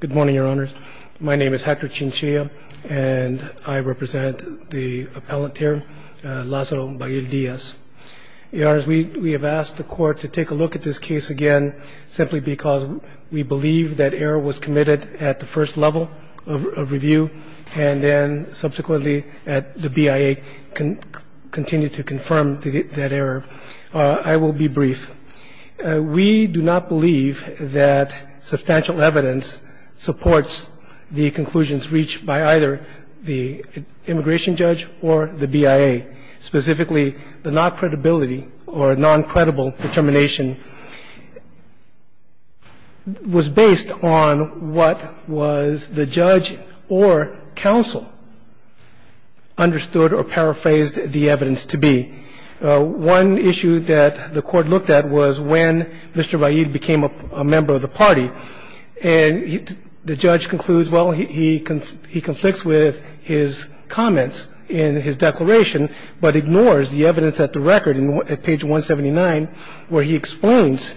Good morning, Your Honors. My name is Hector Chinchilla, and I represent the appellant here, Lazaro Vail-Diaz. Your Honors, we have asked the Court to take a look at this case again simply because we believe that error was committed at the first level of review, and then subsequently the BIA continued to confirm that error. I will be brief. We do not believe that substantial evidence supports the conclusions reached by either the immigration judge or the BIA. Specifically, the non-credibility or non-credible determination was based on what was the judge or counsel understood or paraphrased the evidence to be. One issue that the Court looked at was when Mr. Vail-Diaz became a member of the party, and the judge concludes, well, he conflicts with his comments in his declaration, but ignores the evidence at the record at page 179 where he explains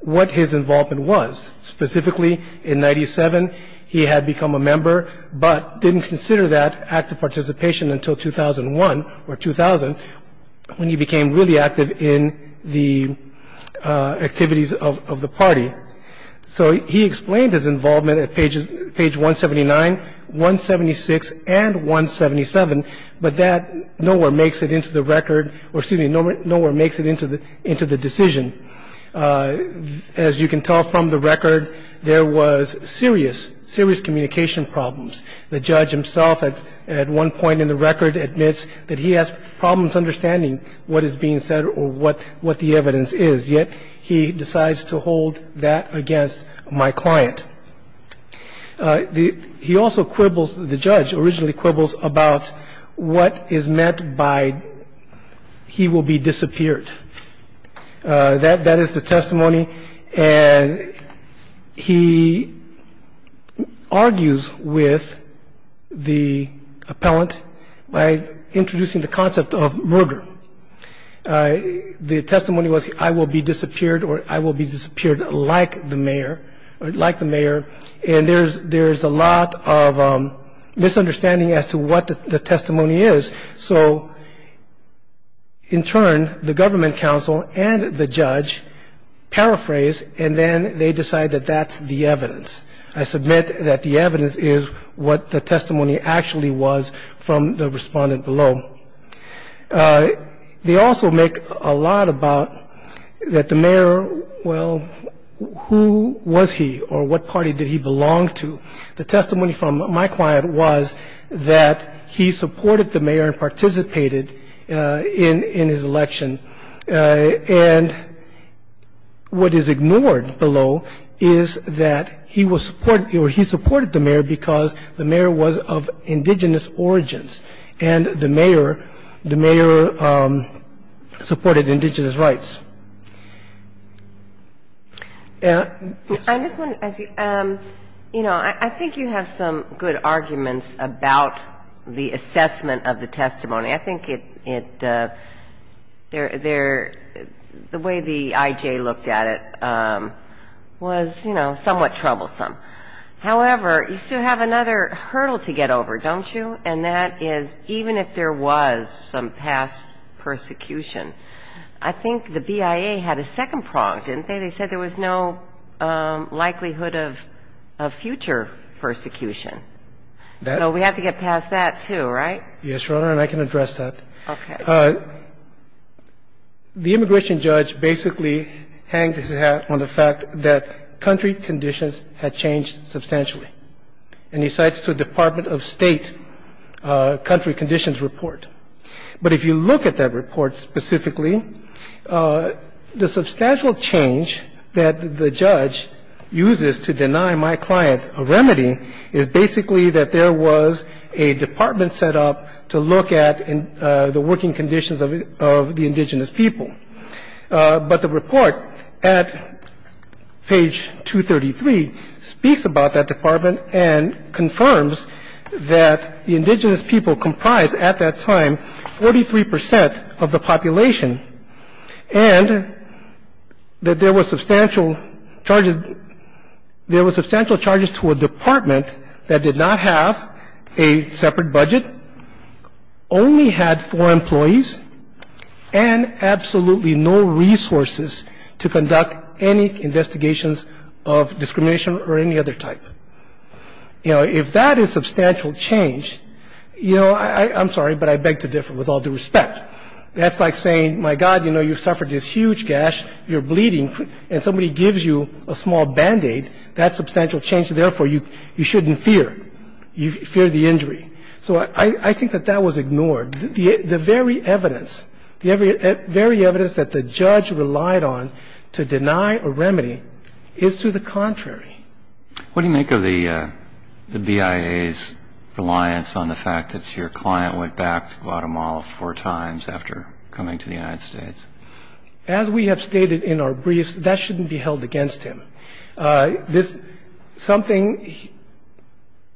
what his involvement was. Specifically, in 97, he had become a member but didn't consider that active participation until 2001 or 2000 when he became really active in the activities of the party. So he explained his involvement at page 179, 176, and 177, but that nowhere makes it into the record or, excuse me, nowhere makes it into the decision. As you can tell from the record, there was serious, serious communication problems. The judge himself at one point in the record admits that he has problems understanding what is being said or what the evidence is, yet he decides to hold that against my client. He also quibbles, the judge originally quibbles about what is meant by he will be disappeared. That is the testimony, and he argues with the appellant by introducing the concept of murder. The testimony was I will be disappeared or I will be disappeared like the mayor, like the mayor, and there's a lot of misunderstanding as to what the testimony is. So in turn, the government counsel and the judge paraphrase and then they decide that that's the evidence. I submit that the evidence is what the testimony actually was from the respondent below. They also make a lot about that the mayor, well, who was he or what party did he belong to? The testimony from my client was that he supported the mayor and participated in his election, and what is ignored below is that he supported the mayor because the mayor was of indigenous origins and the mayor supported indigenous rights. And this one, you know, I think you have some good arguments about the assessment of the testimony. I think it, the way the I.J. looked at it was, you know, somewhat troublesome. However, you still have another hurdle to get over, don't you, and that is even if there was some past persecution, I think the BIA had a second prong, didn't they? They said there was no likelihood of future persecution. So we have to get past that, too, right? Yes, Your Honor, and I can address that. Okay. The immigration judge basically hanged his hat on the fact that country conditions had changed substantially, and he cites the Department of State country conditions But if you look at that report specifically, the substantial change that the judge uses to deny my client a remedy is basically that there was a department set up to look at the working conditions of the indigenous people. But the report at page 233 speaks about that department and confirms that the indigenous people comprised at that time 43 percent of the population and that there was substantial charges to a department that did not have a separate budget, only had four employees, and absolutely no resources to conduct any investigations of discrimination or any other type. You know, if that is substantial change, you know, I'm sorry, but I beg to differ with all due respect. That's like saying, my God, you know, you've suffered this huge gash, you're bleeding, and somebody gives you a small Band-Aid, that's substantial change. Therefore, you shouldn't fear. You fear the injury. So I think that that was ignored. The very evidence, the very evidence that the judge relied on to deny a remedy is to the contrary. What do you make of the BIA's reliance on the fact that your client went back to Guatemala four times after coming to the United States? As we have stated in our briefs, that shouldn't be held against him. This something,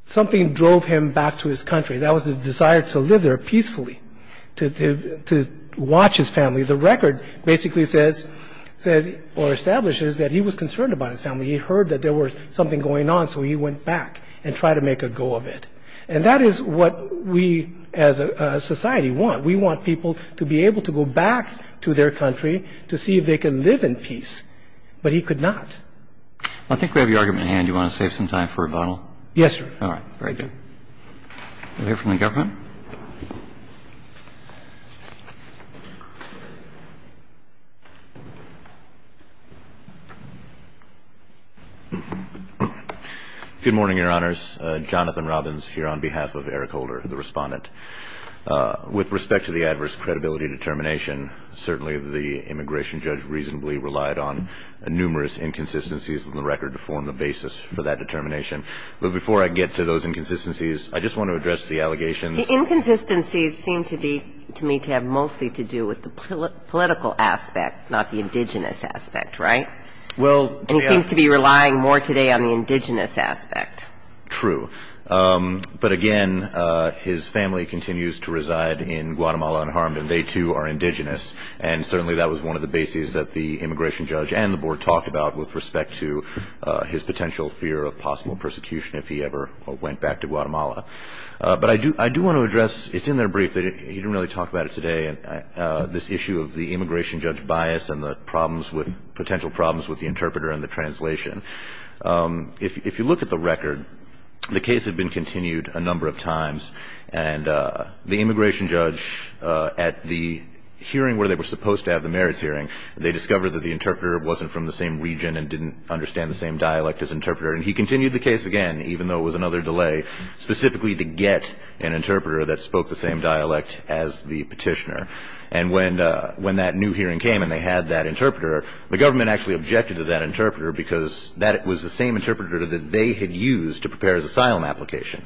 something drove him back to his country. That was the desire to live there peacefully, to watch his family. The record basically says or establishes that he was concerned about his family. He heard that there was something going on, so he went back and tried to make a go of it. And that is what we as a society want. We want people to be able to go back to their country to see if they can live in peace. But he could not. Well, I think we have your argument in hand. Do you want to save some time for rebuttal? Yes, sir. All right. Very good. We'll hear from the government. Good morning, Your Honors. Jonathan Robbins here on behalf of Eric Holder, the Respondent. With respect to the adverse credibility determination, certainly the immigration judge reasonably relied on numerous inconsistencies in the record to form the basis for that determination. But before I get to those inconsistencies, I just want to address the allegations. The inconsistencies seem to be, to me, to have mostly to do with the political aspect, not the indigenous aspect, right? Well, to be honest with you. And he seems to be relying more today on the indigenous aspect. True. But, again, his family continues to reside in Guatemala unharmed, and they, too, are indigenous. And certainly that was one of the bases that the immigration judge and the board talked about with respect to his potential fear of possible persecution if he ever went back to Guatemala. But I do want to address – it's in their brief. He didn't really talk about it today, this issue of the immigration judge bias and the potential problems with the interpreter and the translation. If you look at the record, the case had been continued a number of times. And the immigration judge, at the hearing where they were supposed to have the merits hearing, they discovered that the interpreter wasn't from the same region and didn't understand the same dialect as interpreter. And he continued the case again, even though it was another delay, specifically to get an interpreter that spoke the same dialect as the petitioner. And when that new hearing came and they had that interpreter, the government actually objected to that interpreter because that was the same interpreter that they had used to prepare his asylum application.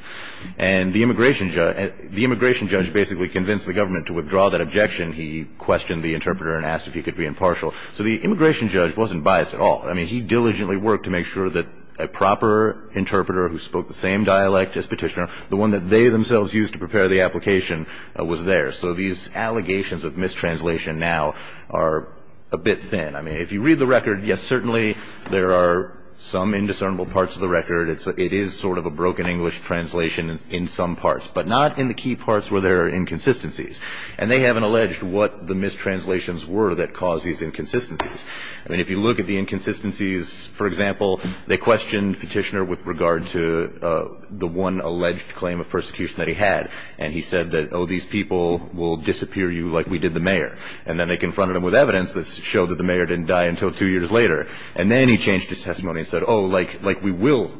And the immigration judge basically convinced the government to withdraw that objection. He questioned the interpreter and asked if he could be impartial. So the immigration judge wasn't biased at all. I mean, he diligently worked to make sure that a proper interpreter who spoke the same dialect as petitioner, the one that they themselves used to prepare the application, was there. So these allegations of mistranslation now are a bit thin. I mean, if you read the record, yes, certainly there are some indiscernible parts of the record. It is sort of a broken English translation in some parts, but not in the key parts where there are inconsistencies. And they haven't alleged what the mistranslations were that caused these inconsistencies. I mean, if you look at the inconsistencies, for example, they questioned petitioner with regard to the one alleged claim of persecution that he had. And he said that, oh, these people will disappear you like we did the mayor. And then they confronted him with evidence that showed that the mayor didn't die until two years later. And then he changed his testimony and said, oh, like we will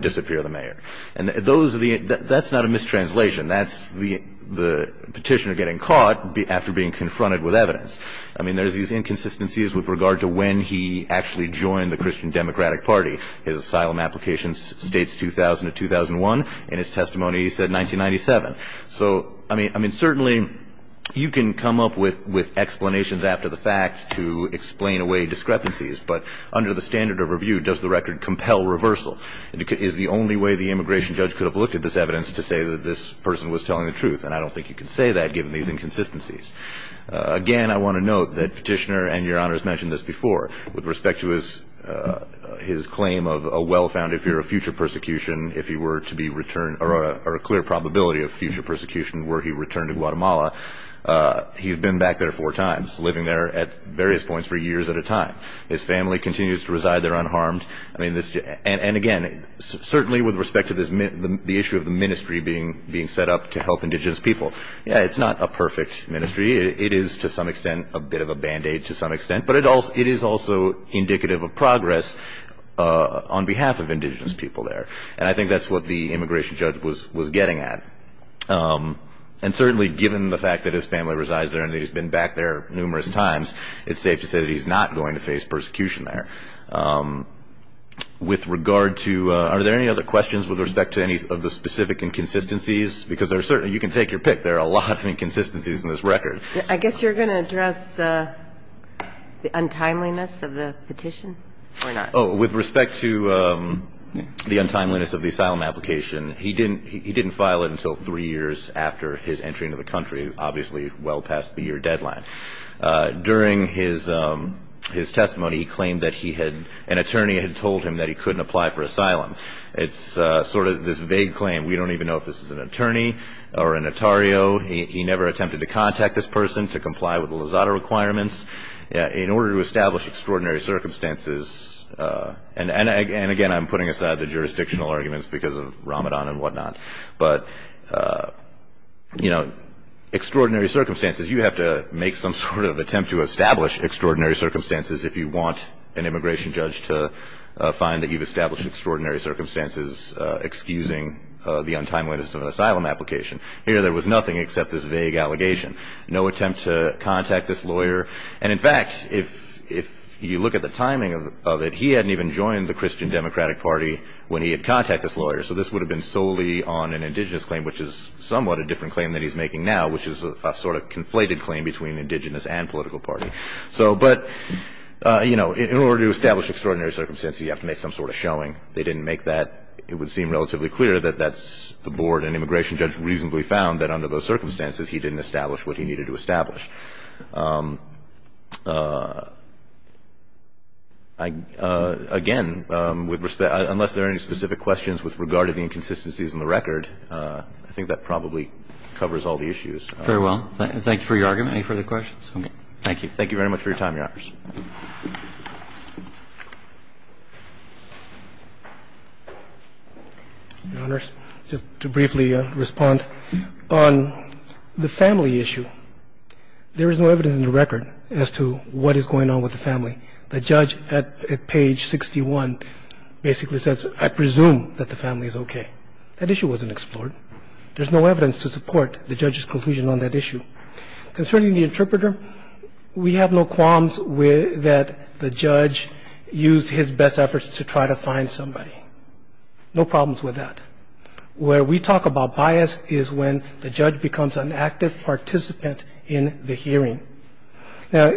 disappear the mayor. And that's not a mistranslation. That's the petitioner getting caught after being confronted with evidence. I mean, there's these inconsistencies with regard to when he actually joined the Christian Democratic Party. His asylum application states 2000 to 2001. In his testimony, he said 1997. So, I mean, certainly you can come up with explanations after the fact to explain away discrepancies. But under the standard of review, does the record compel reversal? Is the only way the immigration judge could have looked at this evidence to say that this person was telling the truth? And I don't think you can say that given these inconsistencies. Again, I want to note that Petitioner and Your Honors mentioned this before. With respect to his claim of a well-founded fear of future persecution, if he were to be returned or a clear probability of future persecution were he returned to Guatemala, he's been back there four times, living there at various points for years at a time. His family continues to reside there unharmed. And, again, certainly with respect to the issue of the ministry being set up to help indigenous people, it's not a perfect ministry. It is, to some extent, a bit of a Band-Aid to some extent. But it is also indicative of progress on behalf of indigenous people there. And I think that's what the immigration judge was getting at. And certainly given the fact that his family resides there and that he's been back there numerous times, it's safe to say that he's not going to face persecution there. With regard to ñ are there any other questions with respect to any of the specific inconsistencies? Because there are certain ñ you can take your pick. There are a lot of inconsistencies in this record. I guess you're going to address the untimeliness of the petition or not? With respect to the untimeliness of the asylum application, he didn't file it until three years after his entry into the country, obviously well past the year deadline. During his testimony, he claimed that he had ñ an attorney had told him that he couldn't apply for asylum. It's sort of this vague claim. We don't even know if this is an attorney or an attorney. He never attempted to contact this person to comply with the Lozada requirements. In order to establish extraordinary circumstances ñ and, again, I'm putting aside the jurisdictional arguments because of Ramadan and whatnot. But, you know, extraordinary circumstances, you have to make some sort of attempt to establish extraordinary circumstances if you want an immigration judge to find that you've established extraordinary circumstances, excusing the untimeliness of an asylum application. Here there was nothing except this vague allegation. No attempt to contact this lawyer. And, in fact, if you look at the timing of it, he hadn't even joined the Christian Democratic Party when he had contacted this lawyer. So this would have been solely on an indigenous claim, which is somewhat a different claim than he's making now, which is a sort of conflated claim between indigenous and political party. So ñ but, you know, in order to establish extraordinary circumstances, you have to make some sort of showing. They didn't make that. It would seem relatively clear that that's ñ the board and immigration judge reasonably found that under those circumstances he didn't establish what he needed to establish. Again, with respect ñ unless there are any specific questions with regard to the inconsistencies in the record, I think that probably covers all the issues. Very well. Thank you for your argument. Any further questions? Thank you. Thank you very much for your time, Your Honors. Your Honors, just to briefly respond, on the family issue, there is no evidence in the record as to what is going on with the family. The judge at page 61 basically says, I presume that the family is okay. That issue wasn't explored. There's no evidence to support the judge's conclusion on that issue. Concerning the interpreter, we have no qualms that the judge used his best efforts to try to find somebody. No problems with that. Where we talk about bias is when the judge becomes an active participant in the hearing. Now,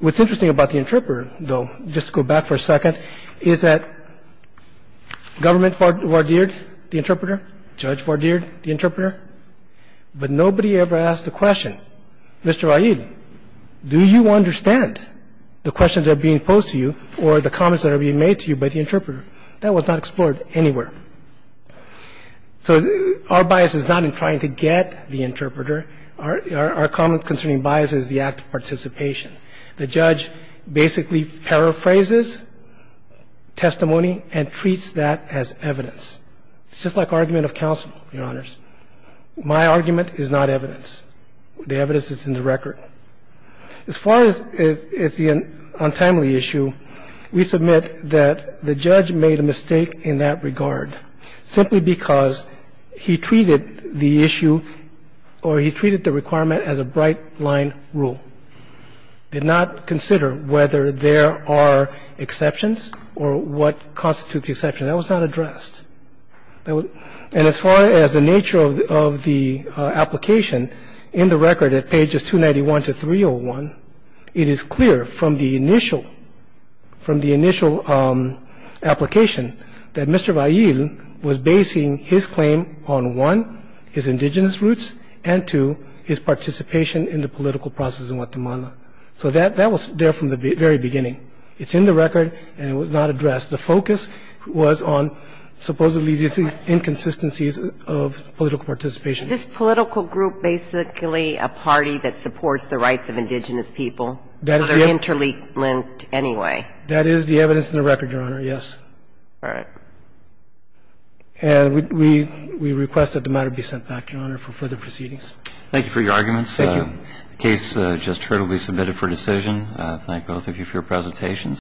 what's interesting about the interpreter, though, just to go back for a second, is that government vardeered the interpreter, judge vardeered the interpreter, but nobody ever asked the question, Mr. Raid, do you understand the questions that are being posed to you or the comments that are being made to you by the interpreter? That was not explored anywhere. So our bias is not in trying to get the interpreter. Our comment concerning bias is the act of participation. The judge basically paraphrases testimony and treats that as evidence. It's just like argument of counsel, Your Honors. My argument is not evidence. The evidence is in the record. As far as the untimely issue, we submit that the judge made a mistake in that regard simply because he treated the issue or he treated the requirement as a bright-line rule, did not consider whether there are exceptions or what constitutes the exception. That was not addressed. And as far as the nature of the application, in the record at pages 291 to 301, it is clear from the initial application that Mr. Raid was basing his claim on, one, his indigenous roots and, two, his participation in the political process in Guatemala. So that was there from the very beginning. It's in the record and it was not addressed. The focus was on supposedly the inconsistencies of political participation. This political group basically a party that supports the rights of indigenous people, other interlinked anyway. That is the evidence in the record, Your Honor, yes. All right. And we request that the matter be sent back, Your Honor, for further proceedings. Thank you for your arguments. Thank you. The case just heard will be submitted for decision. I thank both of you for your presentations.